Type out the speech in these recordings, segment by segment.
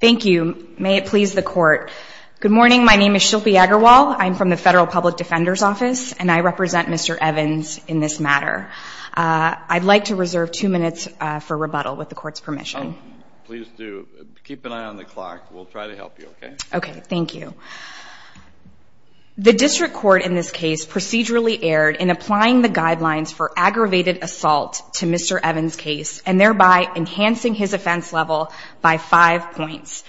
Thank you. May it please the court. Good morning. My name is Shilpi Agarwal. I'm from the Federal Public Defender's Office, and I represent Mr. Evans in this matter. I'd like to reserve two minutes for rebuttal with the court's permission. Please do. Keep an eye on the clock. We'll try to help you, okay? Okay. Thank you. The district court in this case procedurally erred in applying the guidelines for aggravated assault to Mr. Evans' case, and thereby enhancing his offense level by five points.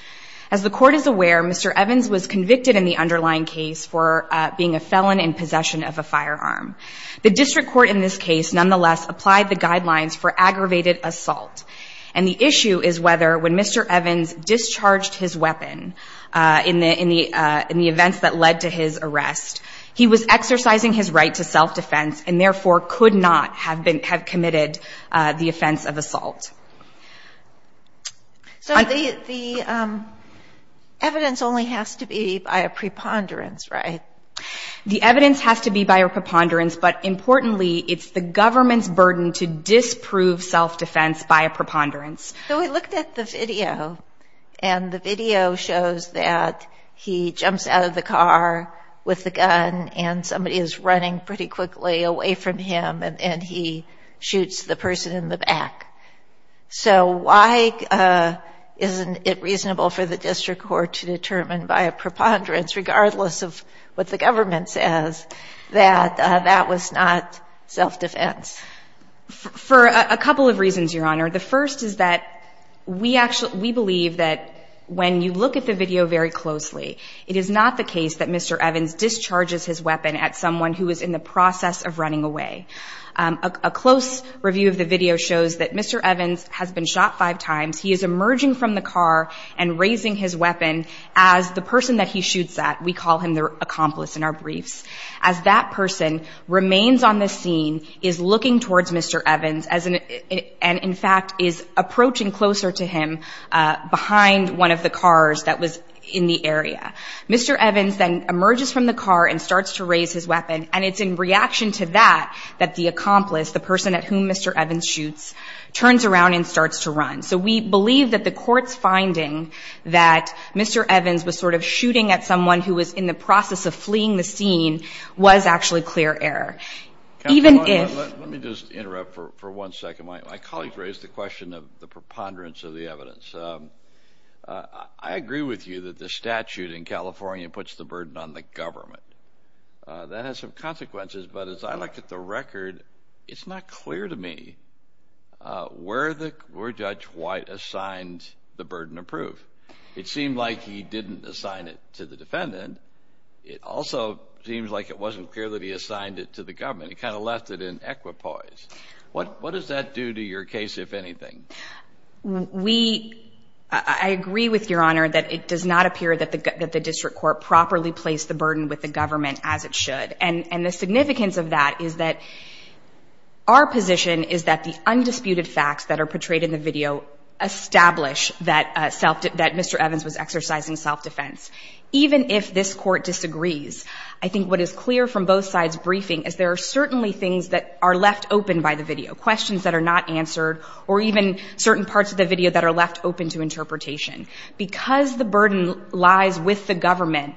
As the court is aware, Mr. Evans was convicted in the underlying case for being a felon in possession of a firearm. The district court in this case nonetheless applied the guidelines for aggravated assault. And the issue is whether, when Mr. Evans discharged his weapon in the events that led to his arrest, he was exercising his right to self-defense, and therefore could not have committed the offense of assault. So the evidence only has to be by a preponderance, right? The evidence has to be by a preponderance, but importantly, it's the government's burden to disprove self-defense by a preponderance. So we looked at the video, and the video shows that he jumps out of the car with the gun, and somebody is running pretty quickly away from him, and he shoots the person in the back. So why isn't it reasonable for the district court to determine by a preponderance, regardless of what the government says, that that was not self-defense? For a couple of reasons, Your Honor. The first is that we actually believe that when you look at the video very closely, it is not the case that Mr. Evans discharges his weapon at someone who is in the process of running away. A close review of the video shows that Mr. Evans has been shot five times. He is emerging from the car and raising his weapon as the person that he shoots at. We call him the accomplice in our briefs. As that person remains on the scene, is looking towards Mr. Evans and, in fact, is approaching closer to him behind one of the cars that was in the area. Mr. Evans then emerges from the car and starts to raise his weapon, and it's in reaction to that that the accomplice, the person at whom Mr. Evans shoots, turns around and starts to run. So we believe that the court's finding that Mr. Evans was sort of shooting at someone who was in the process of fleeing the scene was actually clear error. Let me just interrupt for one second. My colleagues raised the question of the preponderance of the evidence. I agree with you that the statute in California puts the burden on the government. That has some consequences, but as I look at the record, it's not clear to me. Were Judge White assigned the burden of proof? It seemed like he didn't assign it to the defendant. It also seems like it wasn't clear that he assigned it to the government. He kind of left it in equipoise. What does that do to your case, if anything? I agree with Your Honor that it does not appear that the district court properly placed the burden with the government as it should. And the significance of that is that our position is that the undisputed facts that are portrayed in the video establish that Mr. Evans was exercising self-defense. Even if this Court disagrees, I think what is clear from both sides' briefing is there are certainly things that are left open by the video, questions that are not answered, or even certain parts of the video that are left open to interpretation. Because the burden lies with the government,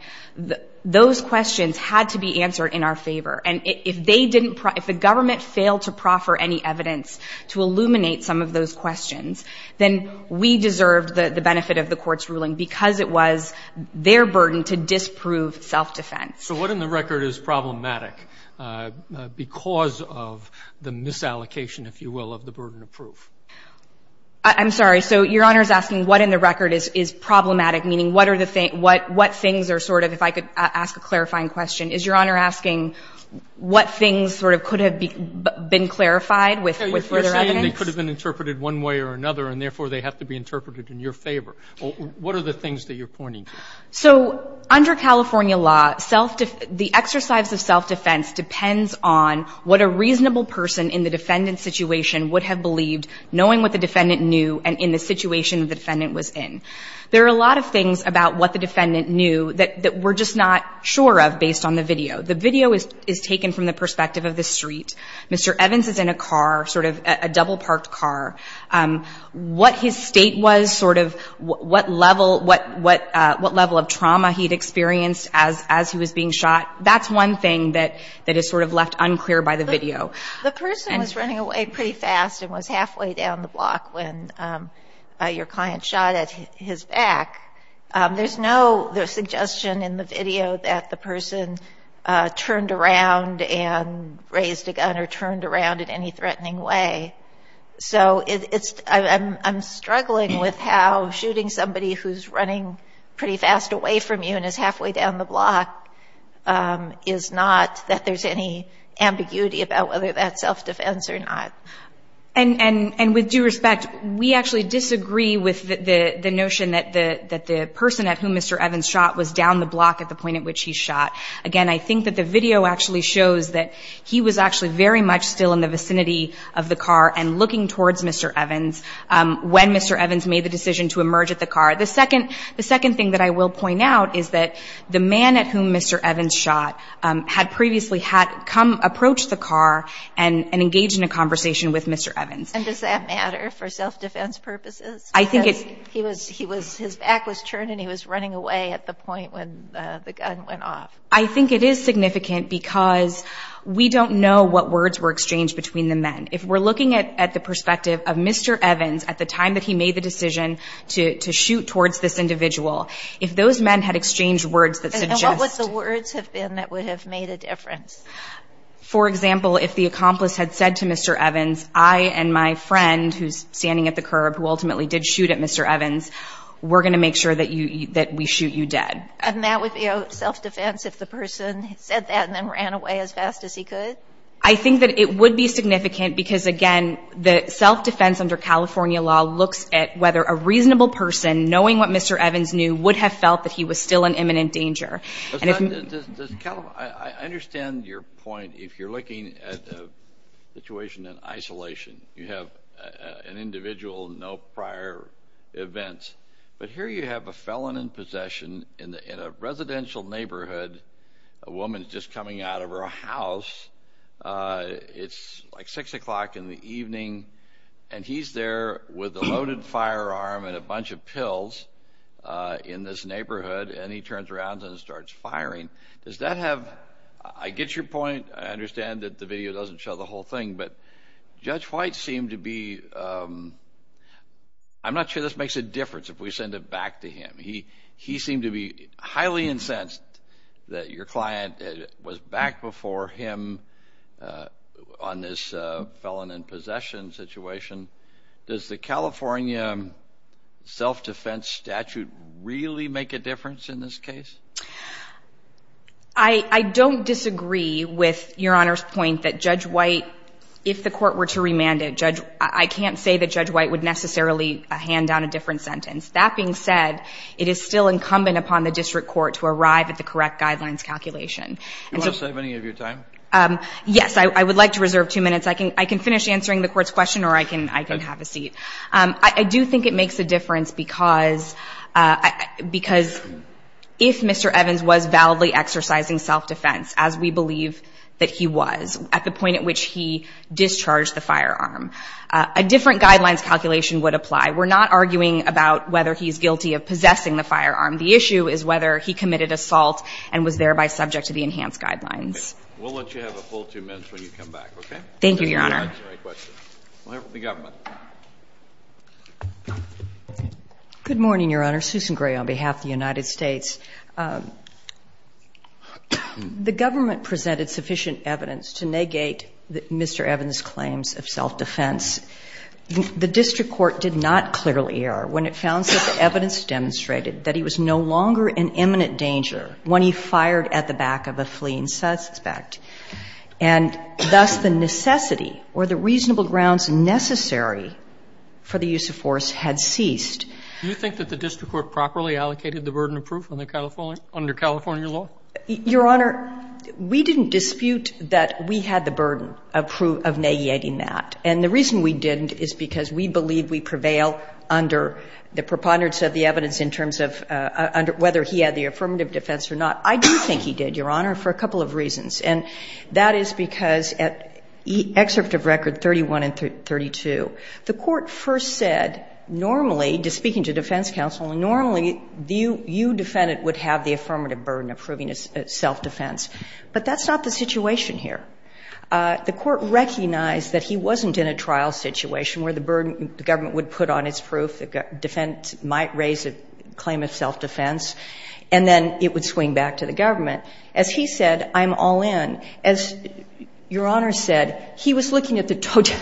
those questions had to be answered in our favor. And if they didn't – if the government failed to proffer any evidence to illuminate some of those questions, then we deserved the benefit of the Court's ruling because it was their burden to disprove self-defense. So what in the record is problematic because of the misallocation, if you will, of the burden of proof? I'm sorry. So Your Honor is asking what in the record is problematic, meaning what are the – what things are sort of – if I could ask a clarifying question. Is Your Honor asking what things sort of could have been clarified with further evidence? You're saying they could have been interpreted one way or another, and therefore they have to be interpreted in your favor. What are the things that you're pointing to? So under California law, the exercise of self-defense depends on what a reasonable person in the defendant's situation would have believed knowing what the defendant knew and in the situation the defendant was in. There are a lot of things about what the defendant knew that we're just not sure of based on the video. The video is taken from the perspective of the street. Mr. Evans is in a car, sort of a double-parked car. What his state was, sort of what level of trauma he'd experienced as he was being shot, that's one thing that is sort of left unclear by the video. The person was running away pretty fast and was halfway down the block when your client shot at his back. There's no suggestion in the video that the person turned around and raised a gun or turned around in any threatening way. So it's – I'm struggling with how shooting somebody who's running pretty fast away from you and is halfway down the block is not that there's any ambiguity about whether that's self-defense or not. And with due respect, we actually disagree with the notion that the person at whom Mr. Evans shot was down the block at the point at which he shot. Again, I think that the video actually shows that he was actually very much still in the vicinity of the car and looking towards Mr. Evans when Mr. Evans made the decision to emerge at the car. The second thing that I will point out is that the man at whom Mr. Evans shot had previously had come approach the car and engaged in a conversation with Mr. Evans. And does that matter for self-defense purposes? I think it's – He was – his back was turned and he was running away at the point when the gun went off. I think it is significant because we don't know what words were exchanged between the men. If we're looking at the perspective of Mr. Evans at the time that he made the decision to shoot towards this individual, if those men had exchanged words that suggest – And what would the words have been that would have made a difference? For example, if the accomplice had said to Mr. Evans, I and my friend who's standing at the curb who ultimately did shoot at Mr. Evans, we're going to make sure that you – that we shoot you dead. And that would be self-defense if the person said that and then ran away as fast as he could? I think that it would be significant because, again, the self-defense under California law looks at whether a reasonable person, knowing what Mr. Evans knew, would have felt that he was still in imminent danger. Does – I understand your point. If you're looking at a situation in isolation, you have an individual, no prior events. But here you have a felon in possession in a residential neighborhood. A woman is just coming out of her house. It's like 6 o'clock in the evening, and he's there with a loaded firearm and a bunch of pills in this neighborhood, and he turns around and starts firing. Does that have – I get your point. I understand that the video doesn't show the whole thing, but Judge White seemed to be – I'm not sure this makes a difference if we send it back to him. He seemed to be highly incensed that your client was back before him on this felon in possession situation. Does the California self-defense statute really make a difference in this case? I don't disagree with Your Honor's point that Judge White, if the court were to remand it, I can't say that Judge White would necessarily hand down a different sentence. That being said, it is still incumbent upon the district court to arrive at the correct guidelines calculation. Do you want to save any of your time? Yes. I would like to reserve two minutes. I can finish answering the court's question, or I can have a seat. I do think it makes a difference because if Mr. Evans was validly exercising self-defense, as we believe that he was at the point at which he discharged the firearm, a different guidelines calculation would apply. We're not arguing about whether he's guilty of possessing the firearm. The issue is whether he committed assault and was thereby subject to the enhanced guidelines. We'll let you have a full two minutes when you come back, okay? Thank you, Your Honor. We'll answer any questions. We'll hear from the government. Good morning, Your Honor. Susan Gray on behalf of the United States. The government presented sufficient evidence to negate Mr. Evans' claims of self-defense. The district court did not clearly err when it found such evidence demonstrated that he was no longer in imminent danger when he fired at the back of a fleeing suspect. And thus the necessity or the reasonable grounds necessary for the use of force had ceased. Do you think that the district court properly allocated the burden of proof under California law? Your Honor, we didn't dispute that we had the burden of negating that. And the reason we didn't is because we believe we prevail under the preponderance of the evidence in terms of whether he had the affirmative defense or not. I do think he did, Your Honor, for a couple of reasons. And that is because at excerpt of record 31 and 32, the Court first said normally to speaking to defense counsel, normally you defendant would have the affirmative burden of proving a self-defense. But that's not the situation here. The Court recognized that he wasn't in a trial situation where the burden, the government would put on its proof, the defense might raise a claim of self-defense, and then it would swing back to the government. As he said, I'm all in. As Your Honor said, he was looking at the total.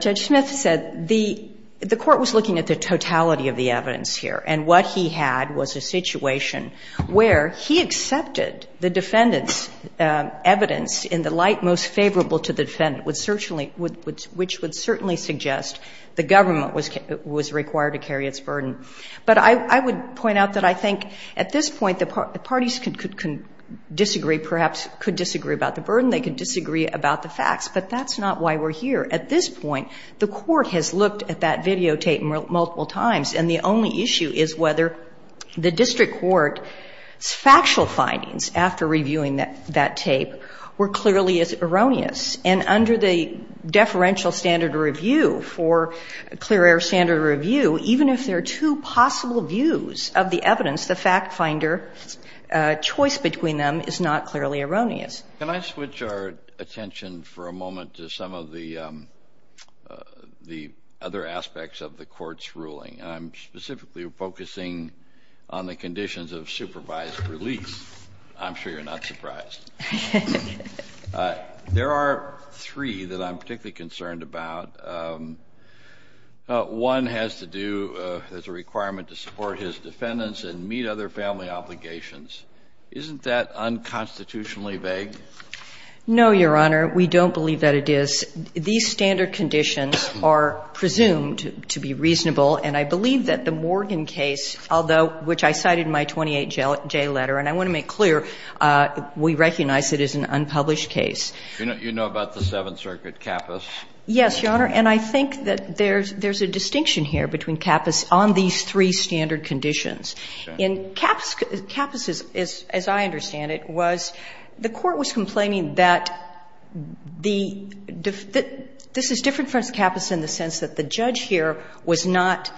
Judge Smith said the Court was looking at the totality of the evidence here. And what he had was a situation where he accepted the defendant's evidence in the light most favorable to the defendant, which would certainly suggest the government was required to carry its burden. But I would point out that I think at this point the parties could disagree, perhaps could disagree about the burden, they could disagree about the facts, but that's not why we're here. At this point, the Court has looked at that videotape multiple times, and the only issue is whether the district court's factual findings after reviewing that tape were clearly erroneous. And under the deferential standard review for clear air standard review, even if there are two possible views of the evidence, the fact finder's choice between them is not clearly erroneous. Can I switch our attention for a moment to some of the other aspects of the Court's ruling? I'm specifically focusing on the conditions of supervised release. I'm sure you're not surprised. There are three that I'm particularly concerned about. One has to do as a requirement to support his defendants and meet other family obligations. Isn't that unconstitutionally vague? No, Your Honor. We don't believe that it is. These standard conditions are presumed to be reasonable. And I believe that the Morgan case, although, which I cited in my 28J letter, and I want to make clear, we recognize it as an unpublished case. You know about the Seventh Circuit, Capas? Yes, Your Honor. And I think that there's a distinction here between Capas on these three standard conditions. In Capas, as I understand it, was the Court was complaining that the defendant was not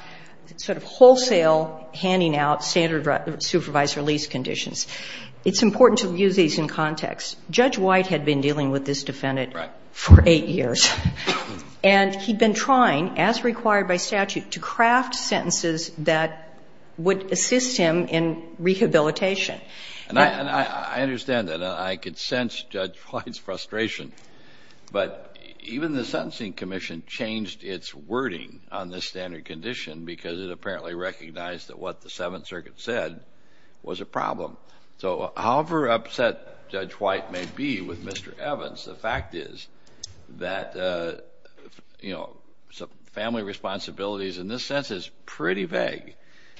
sort of wholesale handing out standard supervised release conditions. It's important to use these in context. Judge White had been dealing with this defendant for 8 years. And he'd been trying, as required by statute, to craft sentences that would assist him in rehabilitation. And I understand that. I could sense Judge White's frustration. But even the Sentencing Commission changed its wording on this standard condition because it apparently recognized that what the Seventh Circuit said was a problem. So however upset Judge White may be with Mr. Evans, the fact is that, you know, family responsibilities in this sense is pretty vague.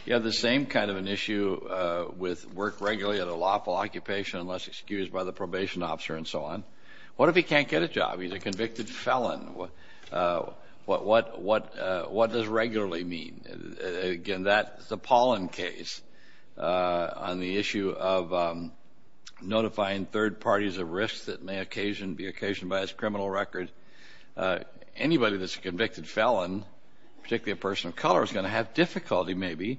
You have the same kind of an issue with work regularly at a lawful occupation unless excused by the probation officer and so on. What if he can't get a job? He's a convicted felon. What does regularly mean? Again, that's the Paulin case on the issue of notifying third parties of risks that may be occasioned by his criminal record. Anybody that's a convicted felon, particularly a person of color, is going to have difficulty maybe.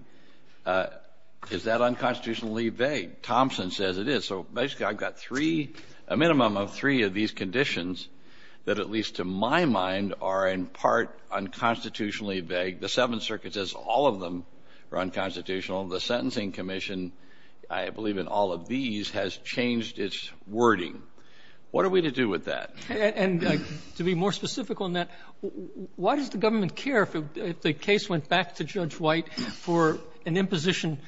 Is that unconstitutionally vague? Thompson says it is. So basically I've got three, a minimum of three of these conditions that at least to my mind are in part unconstitutionally vague. The Seventh Circuit says all of them are unconstitutional. The Sentencing Commission, I believe in all of these, has changed its wording. What are we to do with that? And to be more specific on that, why does the government care if the case went back to Judge White for an imposition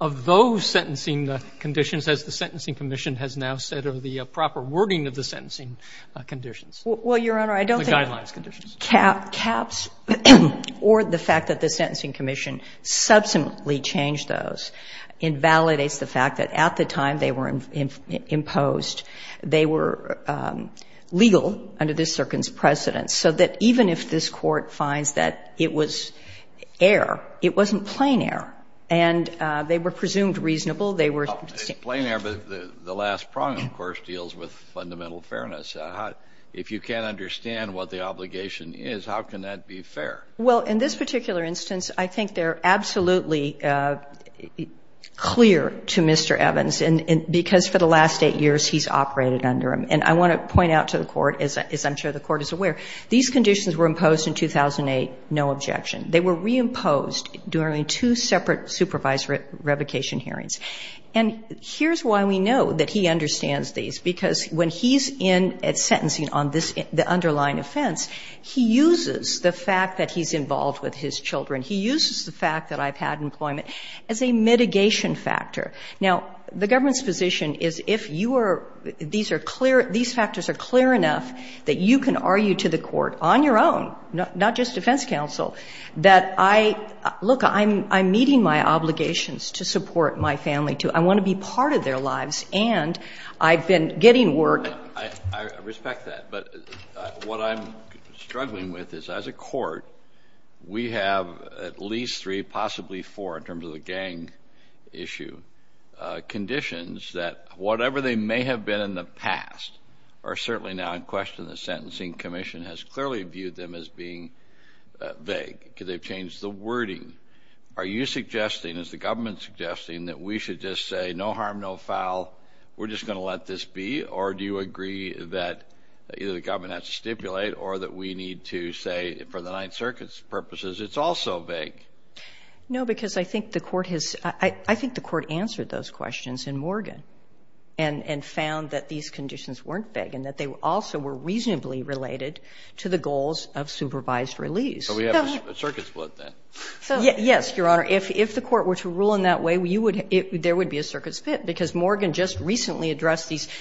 of those sentencing conditions, as the Sentencing Commission has now said, or the proper wording of the sentencing conditions? Well, Your Honor, I don't think that caps or the fact that the Sentencing Commission subsequently changed those invalidates the fact that at the time they were imposed, they were legal under this Circuit's precedence, so that even if this Court finds that it was error, it wasn't plain error, and they were presumed reasonable. They were simple. It's plain error, but the last prong, of course, deals with fundamental fairness. If you can't understand what the obligation is, how can that be fair? Well, in this particular instance, I think they're absolutely clear to Mr. Evans, because for the last eight years he's operated under them. And I want to point out to the Court, as I'm sure the Court is aware, these conditions were imposed in 2008, no objection. They were reimposed during two separate supervisory revocation hearings. And here's why we know that he understands these, because when he's in sentencing on this, the underlying offense, he uses the fact that he's involved with his children. He uses the fact that I've had employment as a mitigation factor. Now, the government's position is if you are, these are clear, these factors are clear enough that you can argue to the Court on your own, not just defense counsel, that I – look, I'm meeting my obligations to support my family, too. I want to be part of their lives, and I've been getting work. I respect that. But what I'm struggling with is as a Court, we have at least three, possibly four, in terms of the gang issue, conditions that whatever they may have been in the past are certainly now in question. The Sentencing Commission has clearly viewed them as being vague because they've changed the wording. Are you suggesting, is the government suggesting, that we should just say, no harm, no foul, we're just going to let this be? Or do you agree that either the government has to stipulate or that we need to say, for the Ninth Circuit's purposes, it's also vague? No, because I think the Court has – I think the Court answered those questions in Morgan and found that these conditions weren't vague and that they also were reasonably related to the goals of supervised release. So we have a circuit split, then. Yes, Your Honor. If the Court were to rule in that way, you would – there would be a circuit split, because Morgan just recently addressed these –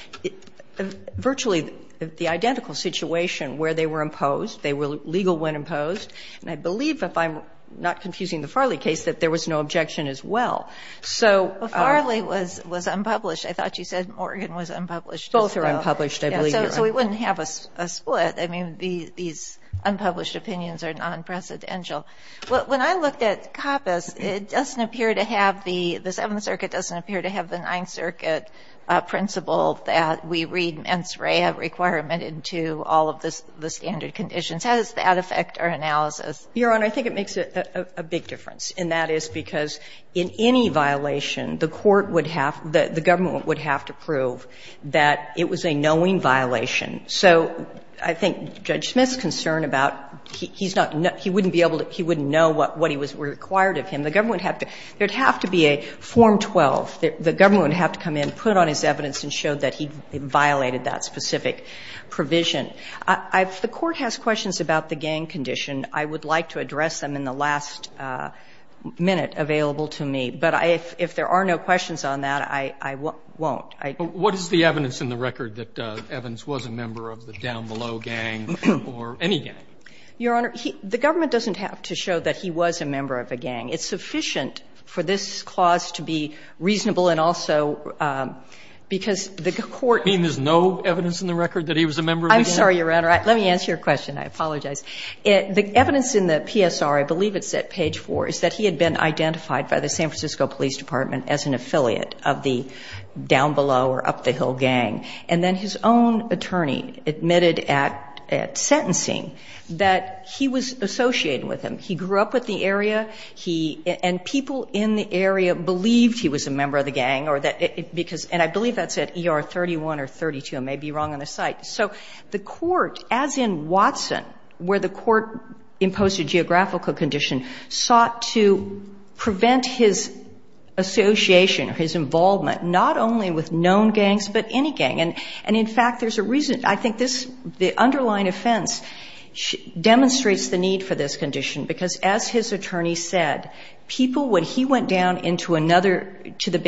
virtually the identical situation where they were imposed, they were legal when imposed. And I believe, if I'm not confusing the Farley case, that there was no objection as well. So – Farley was unpublished. I thought you said Morgan was unpublished as well. Both are unpublished, I believe, Your Honor. So we wouldn't have a split. I mean, these unpublished opinions are non-precedential. When I looked at Capas, it doesn't appear to have the – the Seventh Circuit doesn't appear to have the Ninth Circuit principle that we read mens rea requirement into all of the standard conditions. How does that affect our analysis? Your Honor, I think it makes a big difference. And that is because in any violation, the court would have – the government would have to prove that it was a knowing violation. So I think Judge Smith's concern about – he's not – he wouldn't be able to – he wouldn't know what he was required of him. The government would have to – there would have to be a Form 12. The government would have to come in, put on his evidence, and show that he violated that specific provision. I don't have any evidence on that, Your Honor, unless I'm in the last minute available to me. But if there are no questions on that, I won't. I don't. But what is the evidence in the record that Evans was a member of the Down Below gang or any gang? Your Honor, he – the government doesn't have to show that he was a member of a gang. It's sufficient for this clause to be reasonable and also because the court – I'm sorry, Your Honor. Let me answer your question. I apologize. The evidence in the PSR, I believe it's at page 4, is that he had been identified by the San Francisco Police Department as an affiliate of the Down Below or Up the Hill gang. And then his own attorney admitted at – at sentencing that he was associated with them. He grew up with the area. He – and people in the area believed he was a member of the gang or that – because and I believe that's at ER 31 or 32. I may be wrong on the site. So the court, as in Watson, where the court imposed a geographical condition, sought to prevent his association or his involvement not only with known gangs but any gang. And in fact, there's a reason. I think this – the underlying offense demonstrates the need for this condition because as his attorney said, people when he went down into another – to the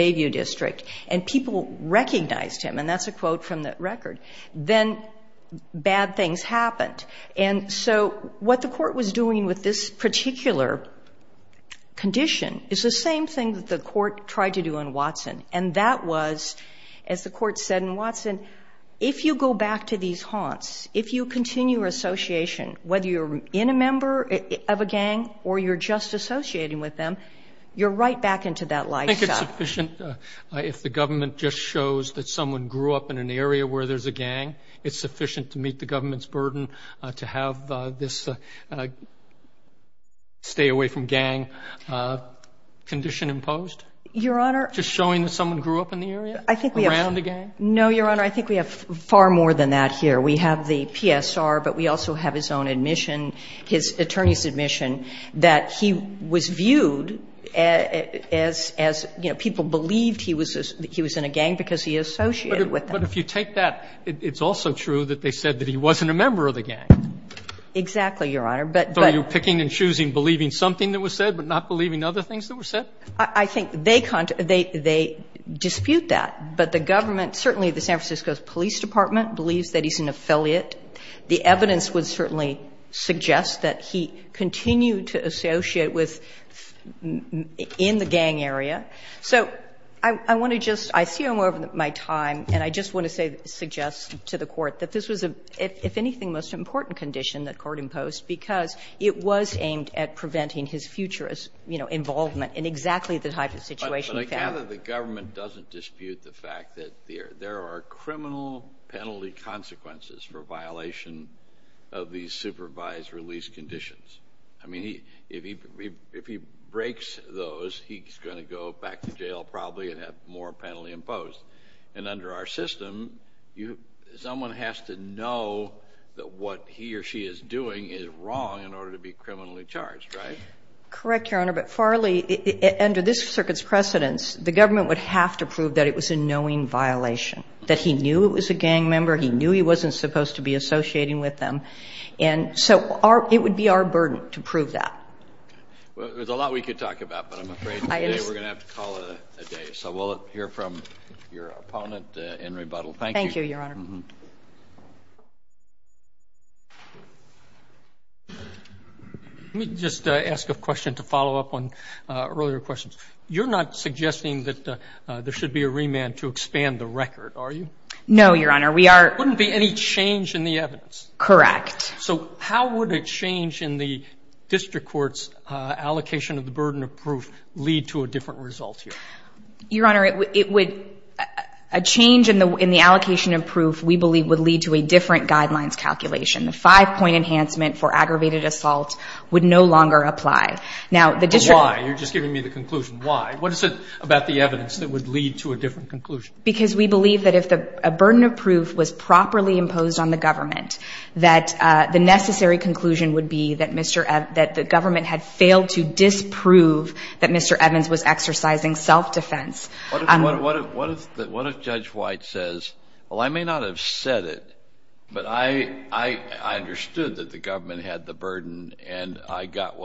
And that's a quote from the record. Then bad things happened. And so what the court was doing with this particular condition is the same thing that the court tried to do in Watson. And that was, as the court said in Watson, if you go back to these haunts, if you continue your association, whether you're in a member of a gang or you're just associating with them, you're right back into that lifestyle. If the government just shows that someone grew up in an area where there's a gang, it's sufficient to meet the government's burden to have this stay away from gang condition imposed? Your Honor. Just showing that someone grew up in the area around a gang? No, Your Honor. I think we have far more than that here. We have the PSR, but we also have his own admission, his attorney's admission, that he was viewed as, you know, people believed he was in a gang because he associated with them. But if you take that, it's also true that they said that he wasn't a member of the gang. Exactly, Your Honor. But – So are you picking and choosing believing something that was said but not believing other things that were said? I think they dispute that. But the government, certainly the San Francisco Police Department, believes that he's an affiliate. The evidence would certainly suggest that he continued to associate with – in the gang area. So I want to just – I see I'm over my time, and I just want to say, suggest to the Court that this was a, if anything, most important condition that Court imposed because it was aimed at preventing his future, you know, involvement in exactly the type of situation he found. But I gather the government doesn't dispute the fact that there are criminal penalty consequences for violation of these supervised release conditions. I mean, if he breaks those, he's going to go back to jail probably and have more penalty imposed. And under our system, someone has to know that what he or she is doing is wrong in order to be criminally charged, right? Correct, Your Honor. But Farley, under this circuit's precedence, the government would have to prove that it was a knowing violation, that he knew it was a gang member, he knew he wasn't supposed to be associating with them. And so it would be our burden to prove that. Well, there's a lot we could talk about, but I'm afraid today we're going to have to call it a day. So we'll hear from your opponent in rebuttal. Thank you. Thank you, Your Honor. Let me just ask a question to follow up on earlier questions. You're not suggesting that there should be a remand to expand the record, are you? No, Your Honor. There wouldn't be any change in the evidence. Correct. So how would a change in the district court's allocation of the burden of proof lead to a different result here? Your Honor, it would — a change in the allocation of proof, we believe, would lead to a different guidelines calculation. The five-point enhancement for aggravated assault would no longer apply. But why? You're just giving me the conclusion. Why? What is it about the evidence that would lead to a different conclusion? Because we believe that if a burden of proof was properly imposed on the government, that the necessary conclusion would be that the government had failed to disprove that Mr. Evans was exercising self-defense. What if Judge White says, well, I may not have said it, but I understood that the government did mine, I got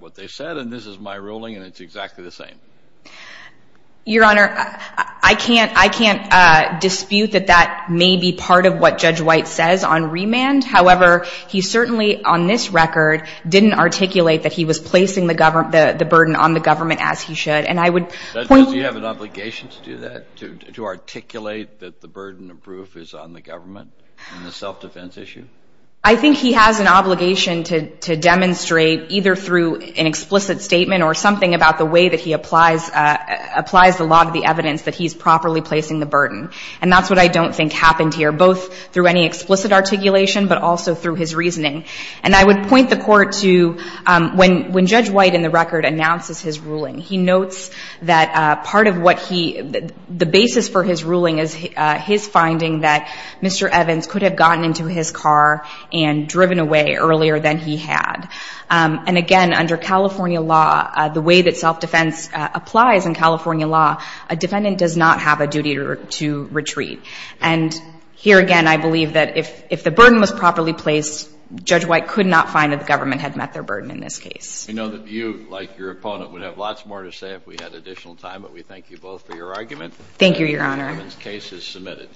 what they said, and this is my ruling, and it's exactly the same? Your Honor, I can't dispute that that may be part of what Judge White says on remand. However, he certainly on this record didn't articulate that he was placing the burden on the government as he should. And I would — Does he have an obligation to do that, to articulate that the burden of proof is on the government in the self-defense issue? I think he has an obligation to demonstrate either through an explicit statement or something about the way that he applies the law to the evidence that he's properly placing the burden. And that's what I don't think happened here, both through any explicit articulation but also through his reasoning. And I would point the Court to when Judge White in the record announces his ruling, he notes that part of what he — the basis for his ruling is his finding that Mr. White was driving his car and driven away earlier than he had. And again, under California law, the way that self-defense applies in California law, a defendant does not have a duty to retreat. And here again, I believe that if the burden was properly placed, Judge White could not find that the government had met their burden in this case. We know that you, like your opponent, would have lots more to say if we had additional time, but we thank you both for your argument. Thank you, Your Honor. The case is submitted.